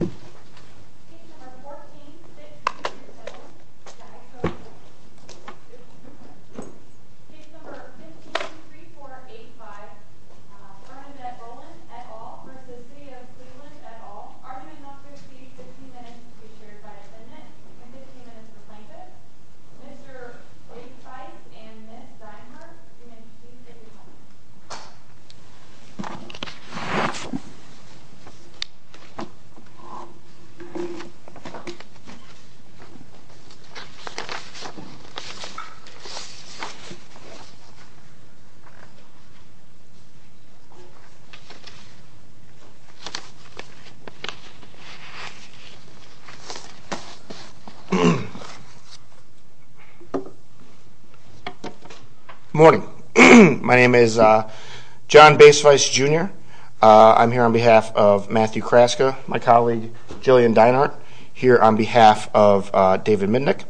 at all, arguing that there should be 15 minutes to be shared by a Senate and 15 minutes for Plaintiffs. Mr. Wade-Spice and Ms. Zimmer, students, please take your seats. Good morning. My name is John Base-Spice Jr. I'm here on behalf of Matthew Kraska, my colleague Jillian Dienhardt, here on behalf of David Mindick,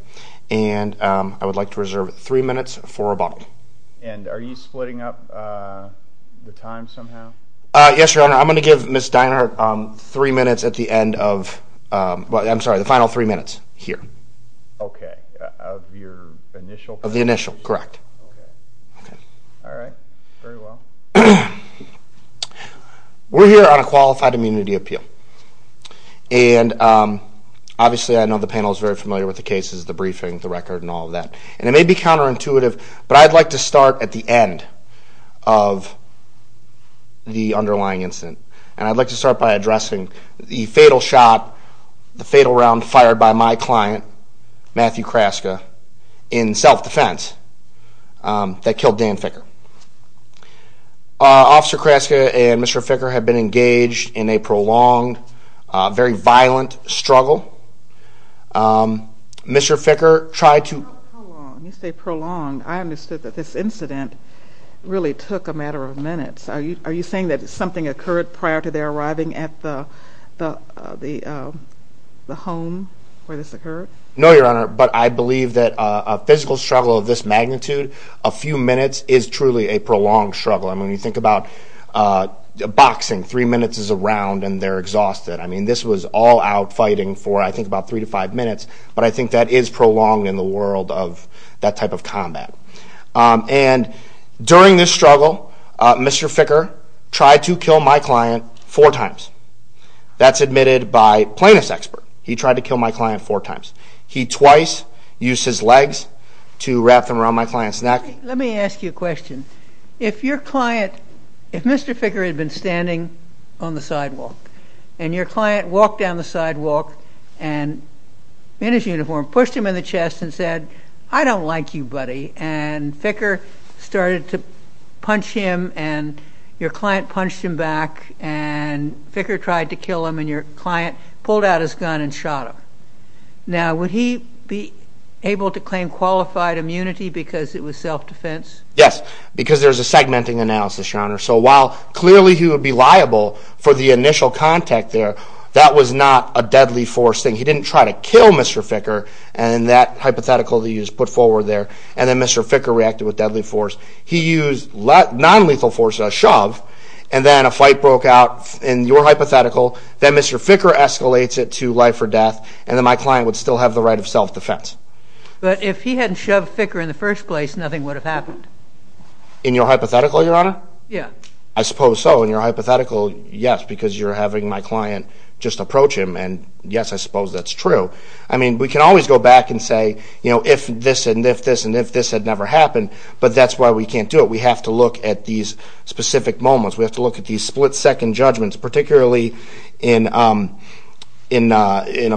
and I would like to reserve three minutes for rebuttal. And are you splitting up the time somehow? Yes, Your Honor. I'm going to give Ms. Dienhardt three minutes at the end of, I'm sorry, the final three minutes here. Okay. Of your initial? Of the initial, correct. Okay. All right. Very well. We're here on a qualified immunity appeal, and obviously I know the panel is very familiar with the cases, the briefing, the record, and all of that. And it may be counterintuitive, but I'd like to start at the end of the underlying incident. And I'd like to start by addressing the fatal round fired by my client, Matthew Kraska, in self-defense that killed Dan Ficker. Officer Kraska and Mr. Ficker have been engaged in a prolonged, very violent struggle. Mr. Ficker tried to... You say prolonged. I understood that this incident really took a matter of minutes. Are you saying that something occurred prior to their arriving at the home where this occurred? No, Your Honor, but I believe that a physical struggle of this magnitude, a few minutes, is truly a prolonged struggle. I mean, when you think about boxing, three minutes is a round and they're exhausted. I mean, this was all-out fighting for, I think, about three to five minutes, but I think that is prolonged in the world of that type of combat. And during this struggle, Mr. Ficker tried to kill my client four times. That's admitted by plaintiff's expert. He tried to kill my client four times. He twice used his legs to wrap them around my client's neck. Let me ask you a question. If your client, if Mr. Ficker had been standing on the sidewalk and your client walked down the sidewalk and in his uniform, pushed him in the chest and said, I don't like you, buddy, and Ficker started to punch him and your client punched him back and Ficker tried to kill him and your client pulled out his gun and shot him, now would he be able to claim qualified immunity because it was self-defense? Yes, because there's a segmenting analysis, Your Honor. So while clearly he would be liable for the initial contact there, that was not a deadly force thing. He didn't try to kill Mr. Ficker, and that hypothetical that you just put forward there, and then Mr. Ficker reacted with deadly force. He used nonlethal force, a shove, and then a fight broke out in your hypothetical. Then Mr. Ficker escalates it to life or death, and then my client would still have the right of self-defense. But if he hadn't shoved Ficker in the first place, nothing would have happened. In your hypothetical, Your Honor? Yeah. I suppose so. In your hypothetical, yes, because you're having my client just approach him, and yes, I suppose that's true. I mean, we can always go back and say, you know, if this and if this and if this had never happened, but that's why we can't do it. We have to look at these specific moments. We have to look at these split-second judgments, particularly in a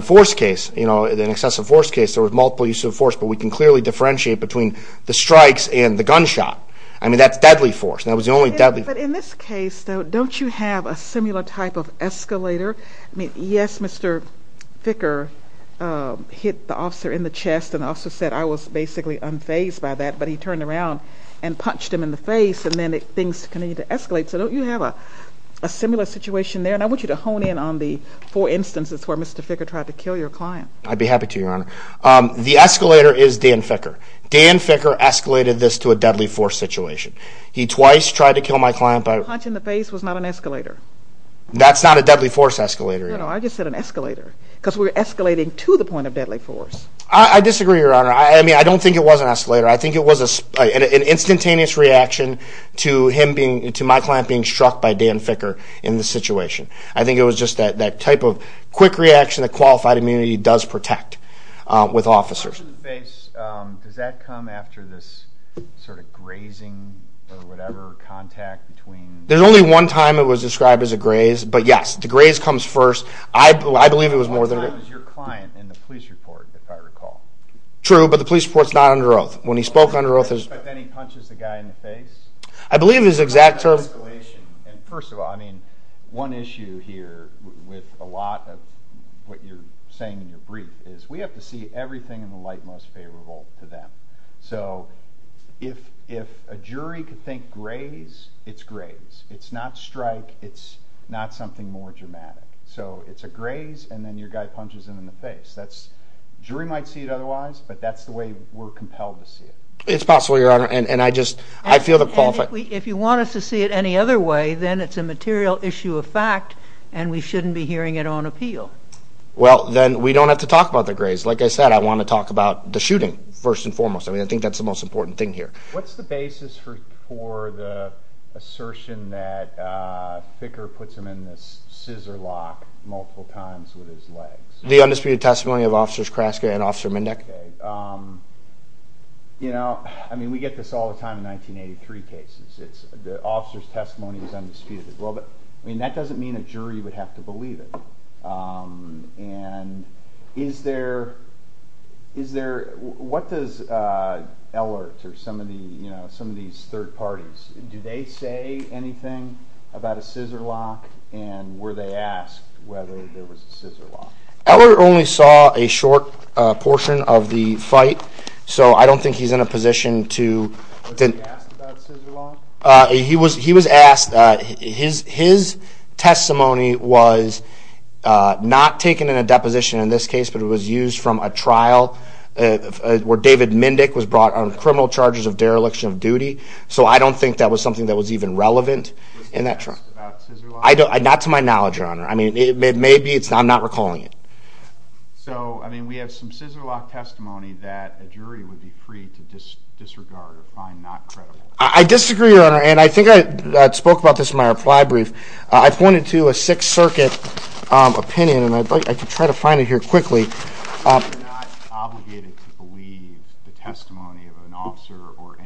force case, you know, an excessive force case. There was multiple uses of force, but we can clearly differentiate between the strikes and the gunshot. I mean, that's deadly force, and that was the only deadly force. But in this case, though, don't you have a similar type of escalator? I mean, yes, Mr. Ficker hit the officer in the chest, and the officer said, I was basically unfazed by that, but he turned around and punched him in the face, and then things continued to escalate. So don't you have a similar situation there? And I want you to hone in on the four instances where Mr. Ficker tried to kill your client. I'd be happy to, Your Honor. The escalator is Dan Ficker. Dan Ficker escalated this to a deadly force situation. He twice tried to kill my client by— The punch in the face was not an escalator. That's not a deadly force escalator, Your Honor. No, no, I just said an escalator, because we're escalating to the point of deadly force. I disagree, Your Honor. I mean, I don't think it was an escalator. I think it was an instantaneous reaction to my client being struck by Dan Ficker in this situation. I think it was just that type of quick reaction that qualified immunity does protect with officers. The punch in the face, does that come after this sort of grazing or whatever, contact between— There's only one time it was described as a graze, but, yes, the graze comes first. I believe it was more than a— One time it was your client in the police report, if I recall. True, but the police report's not under oath. When he spoke under oath— But then he punches the guy in the face? I believe his exact term— It's not an escalation. And, first of all, I mean, one issue here with a lot of what you're saying in your brief is we have to see everything in the light most favorable to them. So if a jury could think graze, it's graze. It's not strike. It's not something more dramatic. So it's a graze, and then your guy punches him in the face. Jury might see it otherwise, but that's the way we're compelled to see it. It's possible, Your Honor, and I just—I feel the— If you want us to see it any other way, then it's a material issue of fact, and we shouldn't be hearing it on appeal. Well, then we don't have to talk about the graze. Like I said, I want to talk about the shooting, first and foremost. I mean, I think that's the most important thing here. What's the basis for the assertion that Thicker puts him in this scissor lock multiple times with his legs? The undisputed testimony of Officers Kraska and Officer Mendeck. You know, I mean, we get this all the time in 1983 cases. The officer's testimony is undisputed. I mean, that doesn't mean a jury would have to believe it. And is there—what does Ehlert or some of these third parties— Ehlert only saw a short portion of the fight, so I don't think he's in a position to— Was he asked about scissor lock? He was asked. His testimony was not taken in a deposition in this case, but it was used from a trial where David Mendeck was brought on criminal charges of dereliction of duty. So I don't think that was something that was even relevant in that trial. Was he asked about scissor lock? Not to my knowledge, Your Honor. I mean, maybe it's—I'm not recalling it. So, I mean, we have some scissor lock testimony that a jury would be free to disregard or find not credible. I disagree, Your Honor, and I think I spoke about this in my reply brief. I pointed to a Sixth Circuit opinion, and I'd like to try to find it here quickly. You're not obligated to believe the testimony of an officer or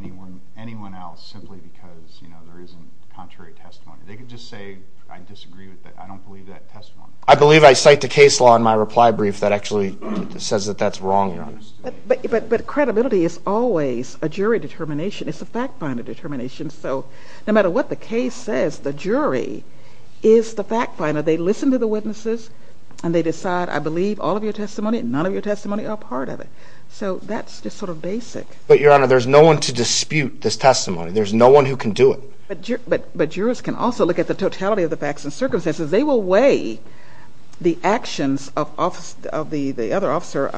anyone else simply because, you know, there isn't contrary testimony. They could just say, I disagree with that, I don't believe that testimony. I believe I cite the case law in my reply brief that actually says that that's wrong, Your Honor. But credibility is always a jury determination. It's a fact finder determination. So no matter what the case says, the jury is the fact finder. They listen to the witnesses, and they decide, I believe all of your testimony and none of your testimony are a part of it. So that's just sort of basic. But, Your Honor, there's no one to dispute this testimony. There's no one who can do it. But jurors can also look at the totality of the facts and circumstances. They will weigh the actions of the other officer,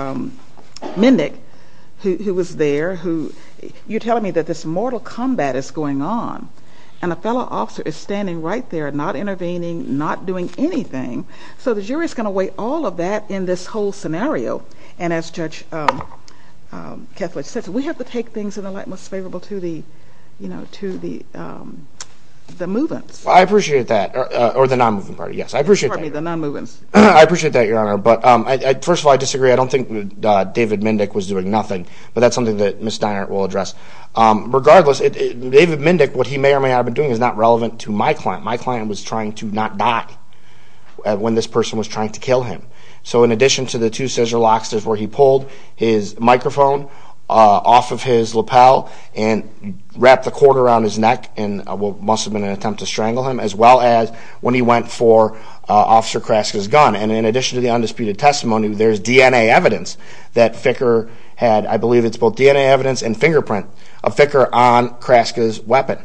Mindick, who was there. You're telling me that this mortal combat is going on, and a fellow officer is standing right there, not intervening, not doing anything. So the jury is going to weigh all of that in this whole scenario. And as Judge Kethledge said, we have to take things in the light most favorable to the movements. I appreciate that. Or the non-moving party, yes. I appreciate that. Pardon me, the non-movings. I appreciate that, Your Honor. But first of all, I disagree. I don't think David Mindick was doing nothing. But that's something that Ms. Steiner will address. Regardless, David Mindick, what he may or may not have been doing, is not relevant to my client. My client was trying to not die when this person was trying to kill him. So in addition to the two scissor locks, this is where he pulled his microphone off of his lapel and wrapped the cord around his neck in what must have been an attempt to strangle him, as well as when he went for Officer Kraska's gun. And in addition to the undisputed testimony, there's DNA evidence that Ficker had, I believe it's both DNA evidence and fingerprint of Ficker on Kraska's weapon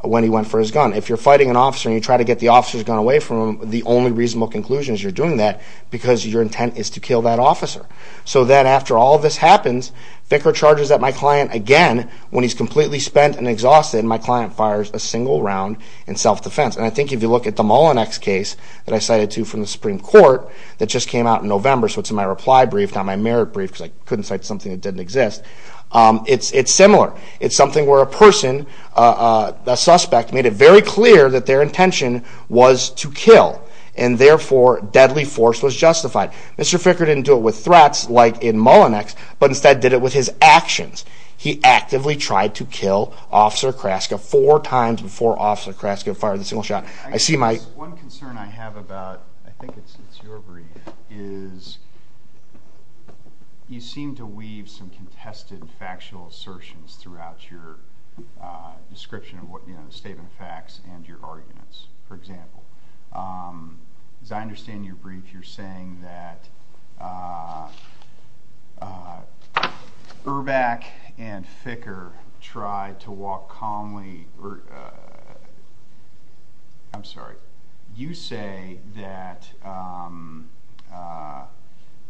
when he went for his gun. If you're fighting an officer and you try to get the officer's gun away from him, the only reasonable conclusion is you're doing that because your intent is to kill that officer. So then after all this happens, Ficker charges at my client again when he's completely spent and exhausted, and my client fires a single round in self-defense. And I think if you look at the Mullinex case that I cited to you from the Supreme Court that just came out in November, so it's in my reply brief, not my merit brief, because I couldn't cite something that didn't exist. It's similar. It's something where a person, a suspect, made it very clear that their intention was to kill, and therefore deadly force was justified. Mr. Ficker didn't do it with threats like in Mullinex, but instead did it with his actions. He actively tried to kill Officer Kraska four times before Officer Kraska fired the single shot. I see my... One concern I have about, I think it's your brief, is you seem to weave some contested factual assertions throughout your description of the statement of facts and your arguments. For example, as I understand your brief, you're saying that Ehrbeck and Ficker tried to walk calmly. I'm sorry. You say that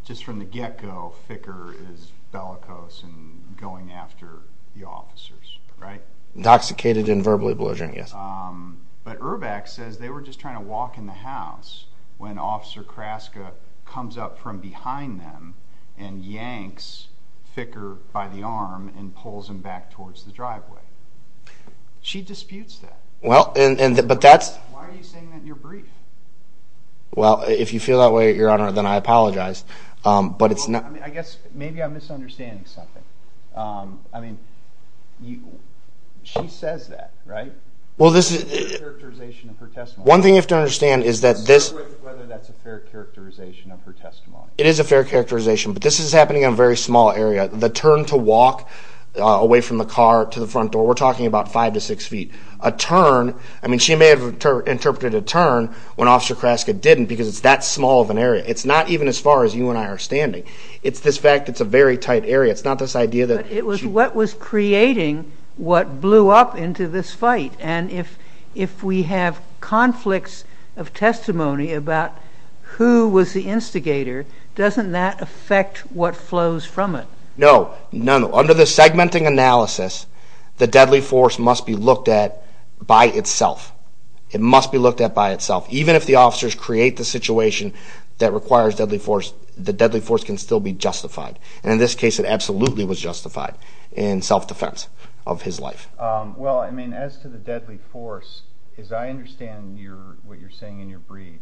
just from the get-go, Ficker is bellicose and going after the officers, right? Intoxicated and verbally belligerent, yes. But Ehrbeck says they were just trying to walk in the house when Officer Kraska comes up from behind them and yanks Ficker by the arm and pulls him back towards the driveway. She disputes that. Why are you saying that in your brief? Well, if you feel that way, Your Honor, then I apologize. I guess maybe I'm misunderstanding something. I mean, she says that, right? It's a fair characterization of her testimony. One thing you have to understand is that this... Start with whether that's a fair characterization of her testimony. It is a fair characterization, but this is happening in a very small area. The turn to walk away from the car to the front door, we're talking about five to six feet. A turn, I mean, she may have interpreted a turn when Officer Kraska didn't because it's that small of an area. It's not even as far as you and I are standing. It's this fact it's a very tight area. It's not this idea that she... But it was what was creating what blew up into this fight. And if we have conflicts of testimony about who was the instigator, doesn't that affect what flows from it? No. Under the segmenting analysis, the deadly force must be looked at by itself. It must be looked at by itself. Even if the officers create the situation that requires deadly force, the deadly force can still be justified. And in this case, it absolutely was justified in self-defense of his life. Well, I mean, as to the deadly force, as I understand what you're saying in your brief,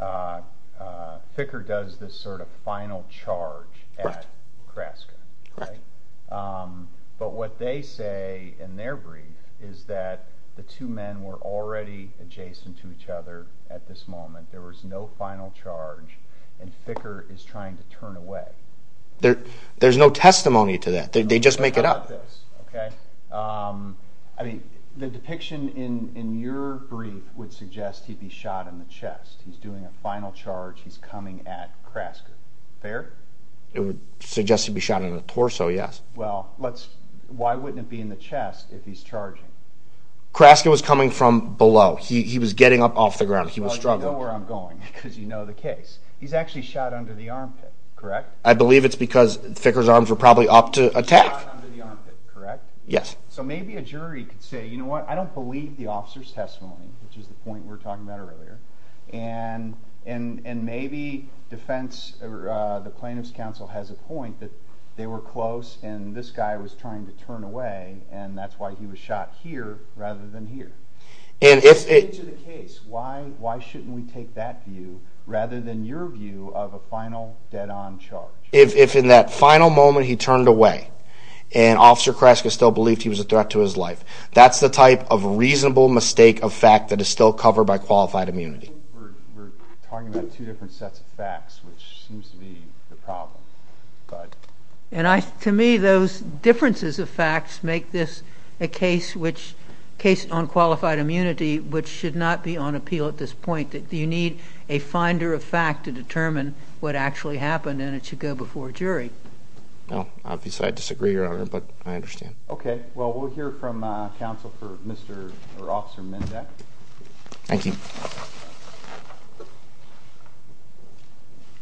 Ficker does this sort of final charge at Kraska, right? Right. But what they say in their brief is that the two men were already adjacent to each other at this moment. There was no final charge, and Ficker is trying to turn away. There's no testimony to that. They just make it up. I mean, the depiction in your brief would suggest he'd be shot in the chest. He's doing a final charge. He's coming at Kraska. Fair? It would suggest he'd be shot in the torso, yes. Well, why wouldn't it be in the chest if he's charging? Kraska was coming from below. He was getting up off the ground. He was struggling. Well, you know where I'm going because you know the case. He's actually shot under the armpit, correct? I believe it's because Ficker's arms were probably up to attack. He was shot under the armpit, correct? Yes. So maybe a jury could say, you know what, I don't believe the officer's testimony, which is the point we were talking about earlier. And maybe defense or the plaintiff's counsel has a point that they were close and this guy was trying to turn away, and that's why he was shot here rather than here. And if it's the case, why shouldn't we take that view rather than your view of a final, dead-on charge? If in that final moment he turned away and Officer Kraska still believed he was a threat to his life, that's the type of reasonable mistake of fact that is still covered by qualified immunity. We're talking about two different sets of facts, which seems to be the problem. To me, those differences of facts make this a case on qualified immunity which should not be on appeal at this point. You need a finder of fact to determine what actually happened, and it should go before a jury. Obviously, I disagree, Your Honor, but I understand. Okay. Well, we'll hear from counsel for Officer Mindek. Thank you.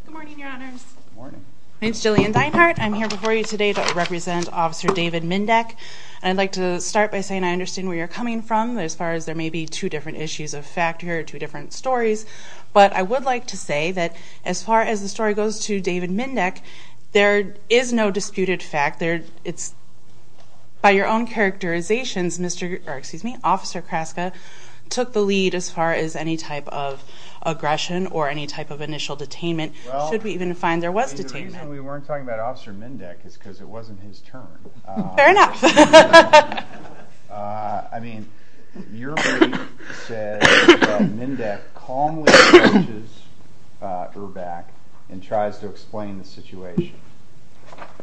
Good morning, Your Honors. Good morning. My name's Jillian Dinehart. I'm here before you today to represent Officer David Mindek. I'd like to start by saying I understand where you're coming from as far as there may be two different issues of fact here or two different stories, but I would like to say that as far as the story goes to David Mindek, there is no disputed fact. By your own characterizations, Officer Kraska took the lead as far as any type of aggression or any type of initial detainment. Should we even find there was detainment? The reason we weren't talking about Officer Mindek is because it wasn't his turn. Fair enough. I mean, your brief says Mindek calmly approaches Erbach and tries to explain the situation.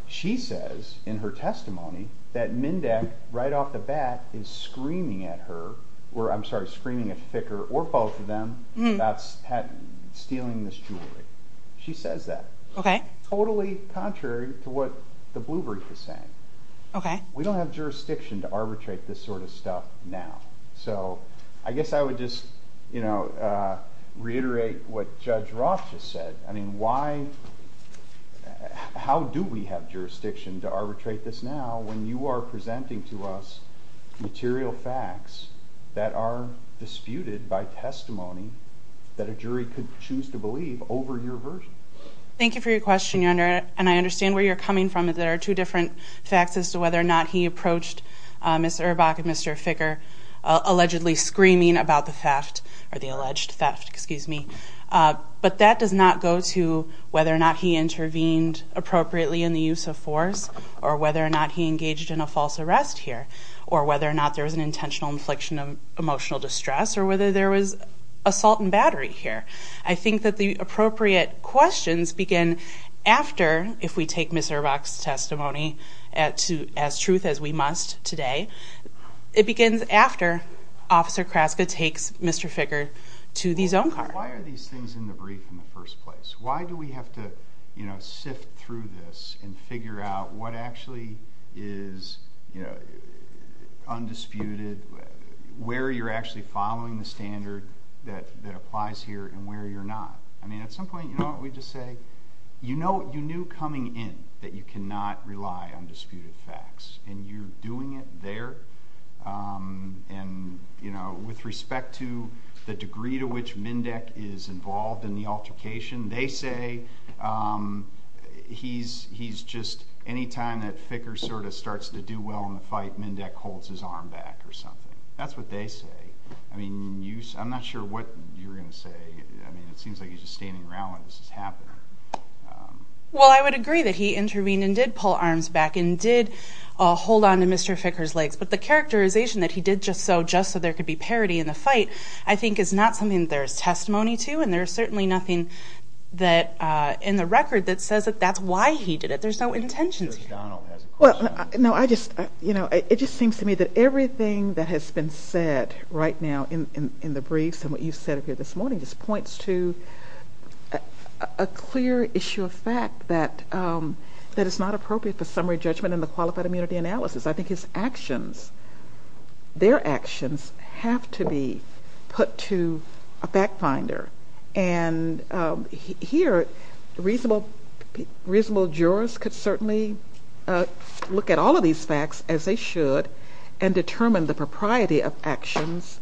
She says in her testimony that Mindek, right off the bat, is screaming at her or, I'm sorry, screaming at Ficker or both of them about stealing this jewelry. She says that. Okay. Totally contrary to what the blue brief is saying. Okay. We don't have jurisdiction to arbitrate this sort of stuff now. So I guess I would just reiterate what Judge Roth just said. I mean, how do we have jurisdiction to arbitrate this now when you are presenting to us material facts that are disputed by testimony that a jury could choose to believe over your version? Thank you for your question, Your Honor, and I understand where you're coming from. There are two different facts as to whether or not he approached Ms. Erbach and Mr. Ficker, allegedly screaming about the theft or the alleged theft, excuse me. But that does not go to whether or not he intervened appropriately in the use of force or whether or not he engaged in a false arrest here or whether or not there was an intentional infliction of emotional distress or whether there was assault and battery here. I think that the appropriate questions begin after, if we take Ms. Erbach's testimony as truth as we must today, it begins after Officer Kraska takes Mr. Ficker to the zone car. Why are these things in the brief in the first place? Why do we have to sift through this and figure out what actually is undisputed, where you're actually following the standard that applies here and where you're not? I mean, at some point, you know what we just say? You knew coming in that you cannot rely on disputed facts, and you're doing it there? And, you know, with respect to the degree to which Mendeck is involved in the altercation, they say he's just anytime that Ficker sort of starts to do well in the fight, Mendeck holds his arm back or something. That's what they say. I mean, I'm not sure what you're going to say. I mean, it seems like he's just standing around while this is happening. Well, I would agree that he intervened and did pull arms back and did hold onto Mr. Ficker's legs, but the characterization that he did just so, just so there could be parity in the fight, I think is not something there's testimony to, and there's certainly nothing in the record that says that that's why he did it. There's no intentions here. Well, no, I just, you know, it just seems to me that everything that has been said right now in the briefs and what you said here this morning just points to a clear issue of fact that it's not appropriate for summary judgment in the qualified immunity analysis. I think his actions, their actions have to be put to a fact finder, and here reasonable jurors could certainly look at all of these facts as they should and determine the propriety of actions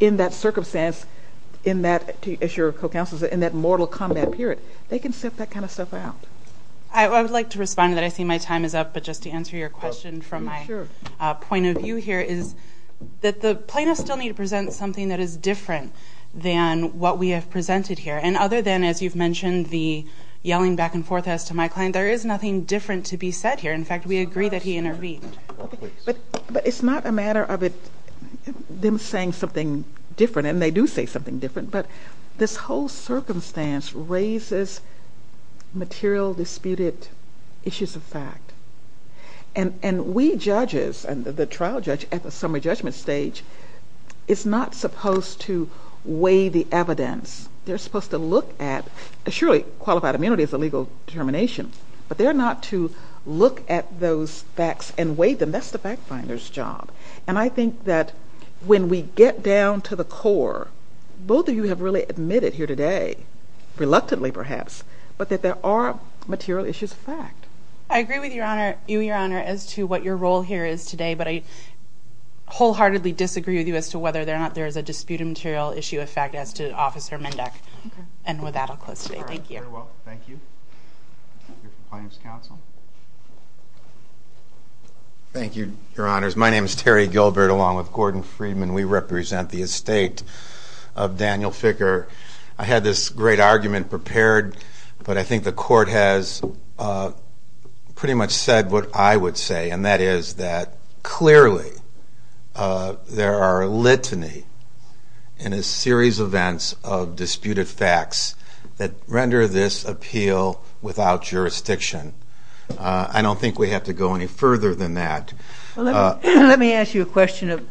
in that circumstance, in that, as your co-counsel said, in that mortal combat period. They can set that kind of stuff out. I would like to respond to that. I see my time is up, but just to answer your question from my point of view here is that the plaintiffs still need to present something that is different than what we have presented here, and other than, as you've mentioned, the yelling back and forth as to my client, there is nothing different to be said here. In fact, we agree that he intervened. But it's not a matter of them saying something different, and they do say something different, but this whole circumstance raises material disputed issues of fact, and we judges and the trial judge at the summary judgment stage is not supposed to weigh the evidence. They're supposed to look at surely qualified immunity is a legal determination, but they're not to look at those facts and weigh them. That's the fact finder's job, and I think that when we get down to the core, both of you have really admitted here today, reluctantly perhaps, but that there are material issues of fact. I agree with you, Your Honor, as to what your role here is today, but I wholeheartedly disagree with you as to whether or not there is a disputed material issue of fact as to Officer Mendeck, and with that I'll close today. Thank you. All right. Very well. Thank you. Your Compliance Counsel. Thank you, Your Honors. My name is Terry Gilbert, along with Gordon Friedman. We represent the estate of Daniel Ficker. I had this great argument prepared, but I think the Court has pretty much said what I would say, and that is that clearly there are litany and a series of events of disputed facts that render this appeal without jurisdiction. I don't think we have to go any further than that. Let me ask you a question.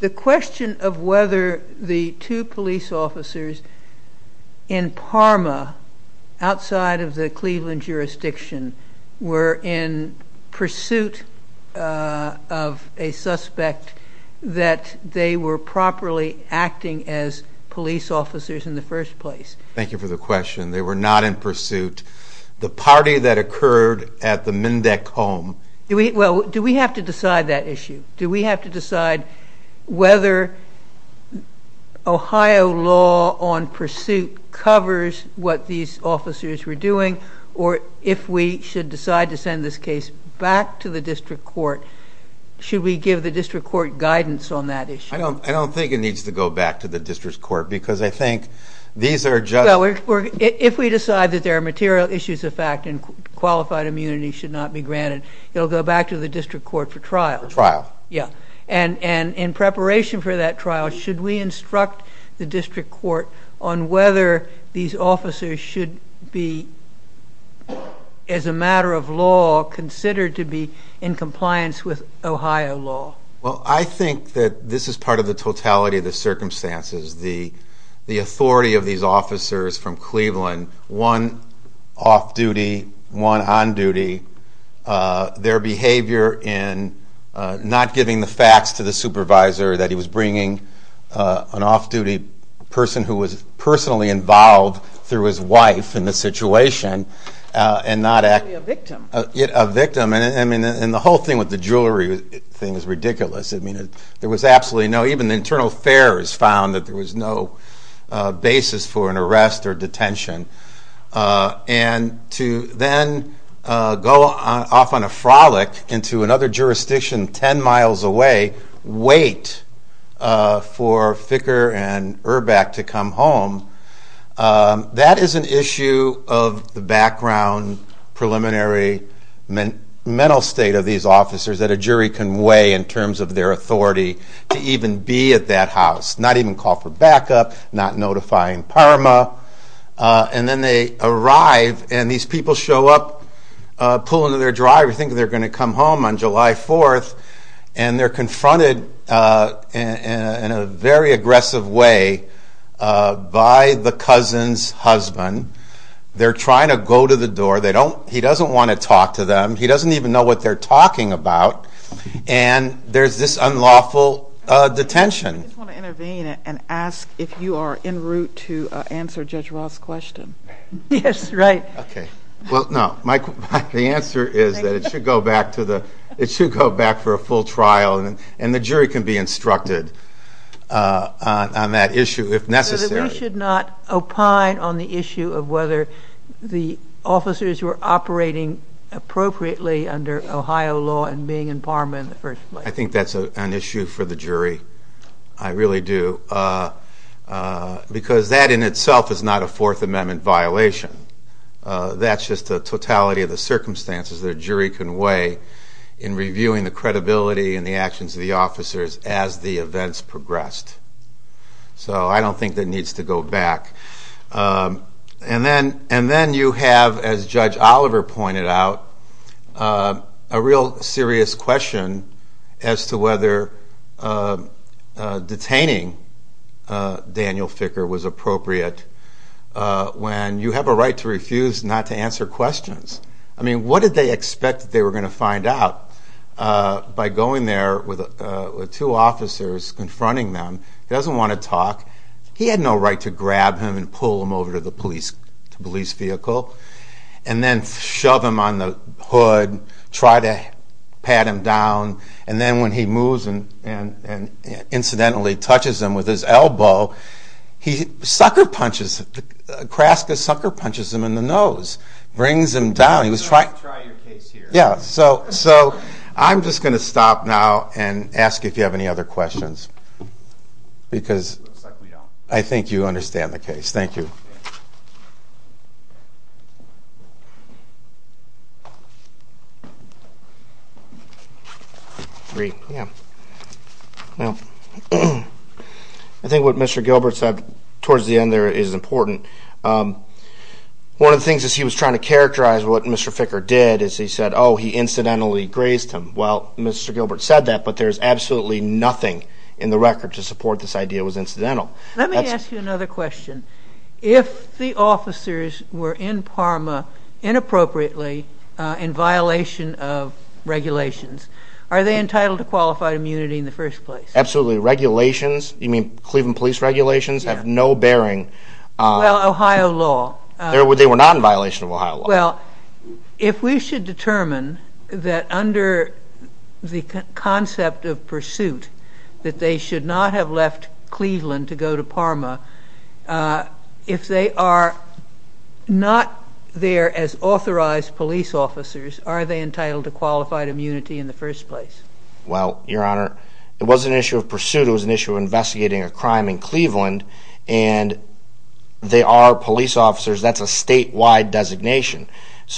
The question of whether the two police officers in Parma, outside of the Cleveland jurisdiction, were in pursuit of a suspect that they were properly acting as police officers in the first place. Thank you for the question. They were not in pursuit. The party that occurred at the Mendeck home. Do we have to decide that issue? Do we have to decide whether Ohio law on pursuit covers what these officers were doing, or if we should decide to send this case back to the district court, should we give the district court guidance on that issue? I don't think it needs to go back to the district court, because I think these are just— If we decide that there are material issues of fact and qualified immunity should not be granted, it will go back to the district court for trial. For trial. Yeah. And in preparation for that trial, should we instruct the district court on whether these officers should be, as a matter of law, considered to be in compliance with Ohio law? Well, I think that this is part of the totality of the circumstances. The authority of these officers from Cleveland, one off-duty, one on-duty, their behavior in not giving the facts to the supervisor that he was bringing an off-duty person who was personally involved through his wife in the situation and not— A victim. A victim. And the whole thing with the jewelry thing is ridiculous. I mean, there was absolutely no—even the internal affairs found that there was no basis for an arrest or detention. And to then go off on a frolic into another jurisdiction 10 miles away, wait for Ficker and Erback to come home, that is an issue of the background, preliminary mental state of these officers that a jury can weigh in terms of their authority to even be at that house, not even call for backup, not notifying PARMA. And then they arrive, and these people show up, pull into their driveway, thinking they're going to come home on July 4th, and they're confronted in a very aggressive way by the cousin's husband. They're trying to go to the door. He doesn't want to talk to them. He doesn't even know what they're talking about, and there's this unlawful detention. I just want to intervene and ask if you are en route to answer Judge Roth's question. Yes, right. Okay. Well, no. The answer is that it should go back for a full trial, and the jury can be instructed on that issue if necessary. So that we should not opine on the issue of whether the officers were operating appropriately under Ohio law and being in PARMA in the first place. I think that's an issue for the jury. I really do. Because that in itself is not a Fourth Amendment violation. That's just the totality of the circumstances that a jury can weigh in reviewing the credibility and the actions of the officers as the events progressed. So I don't think that needs to go back. And then you have, as Judge Oliver pointed out, a real serious question as to whether detaining Daniel Ficker was appropriate when you have a right to refuse not to answer questions. I mean, what did they expect that they were going to find out by going there with two officers, confronting them? He doesn't want to talk. He had no right to grab him and pull him over to the police vehicle and then shove him on the hood, try to pat him down, and then when he moves and incidentally touches him with his elbow, he sucker-punches him, Kraska sucker-punches him in the nose, brings him down. He was trying to try your case here. Yeah, so I'm just going to stop now and ask if you have any other questions because I think you understand the case. Thank you. I think what Mr. Gilbert said towards the end there is important. One of the things that he was trying to characterize what Mr. Ficker did is he said, oh, he incidentally grazed him. Well, Mr. Gilbert said that, but there's absolutely nothing in the record to support this idea it was incidental. Let me ask you another question. If the officers were in Parma inappropriately in violation of regulations, are they entitled to qualified immunity in the first place? Absolutely. Regulations, you mean Cleveland Police regulations, have no bearing. Well, Ohio law. They were not in violation of Ohio law. Well, if we should determine that under the concept of pursuit that they should not have left Cleveland to go to Parma, if they are not there as authorized police officers, are they entitled to qualified immunity in the first place? Well, Your Honor, it wasn't an issue of pursuit. It was an issue of investigating a crime in Cleveland, and they are police officers. That's a statewide designation.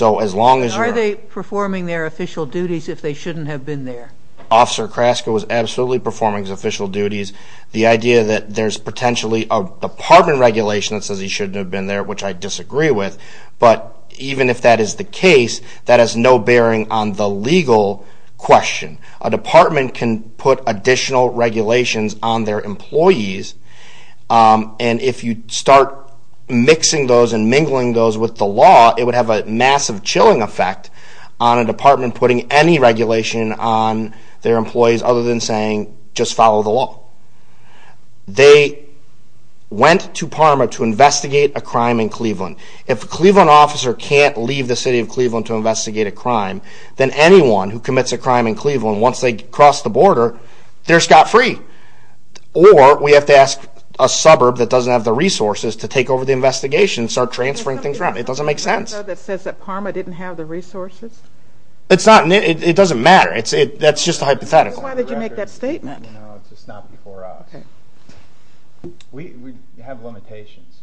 Are they performing their official duties if they shouldn't have been there? Officer Kraska was absolutely performing his official duties. The idea that there's potentially a department regulation that says he shouldn't have been there, which I disagree with, but even if that is the case, that has no bearing on the legal question. A department can put additional regulations on their employees, and if you start mixing those and mingling those with the law, it would have a massive chilling effect on a department putting any regulation on their employees other than saying, just follow the law. They went to Parma to investigate a crime in Cleveland. If a Cleveland officer can't leave the city of Cleveland to investigate a crime, then anyone who commits a crime in Cleveland, once they cross the border, they're scot-free. Or we have to ask a suburb that doesn't have the resources to take over the investigation and start transferring things around. It doesn't make sense. Is there something in there that says that Parma didn't have the resources? It doesn't matter. That's just a hypothetical. Then why did you make that statement? We have limitations.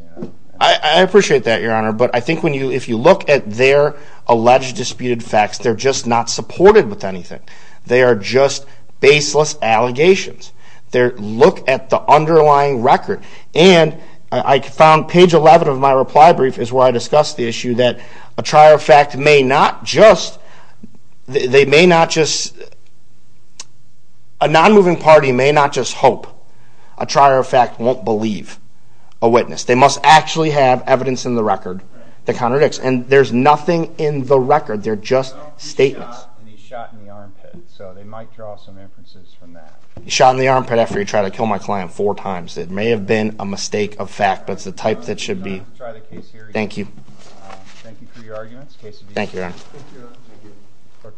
I appreciate that, Your Honor, but I think if you look at their alleged disputed facts, they're just not supported with anything. They are just baseless allegations. Look at the underlying record. And I found page 11 of my reply brief is where I discussed the issue that a trier of fact may not just hope. A trier of fact won't believe a witness. They must actually have evidence in the record that contradicts. And there's nothing in the record. They're just statements. He shot, and he shot in the armpit. So they might draw some inferences from that. He shot in the armpit after he tried to kill my client four times. It may have been a mistake of fact, but it's the type that should be... We're going to try the case here again. Thank you for your arguments. Case adjusted. Thank you, Your Honor.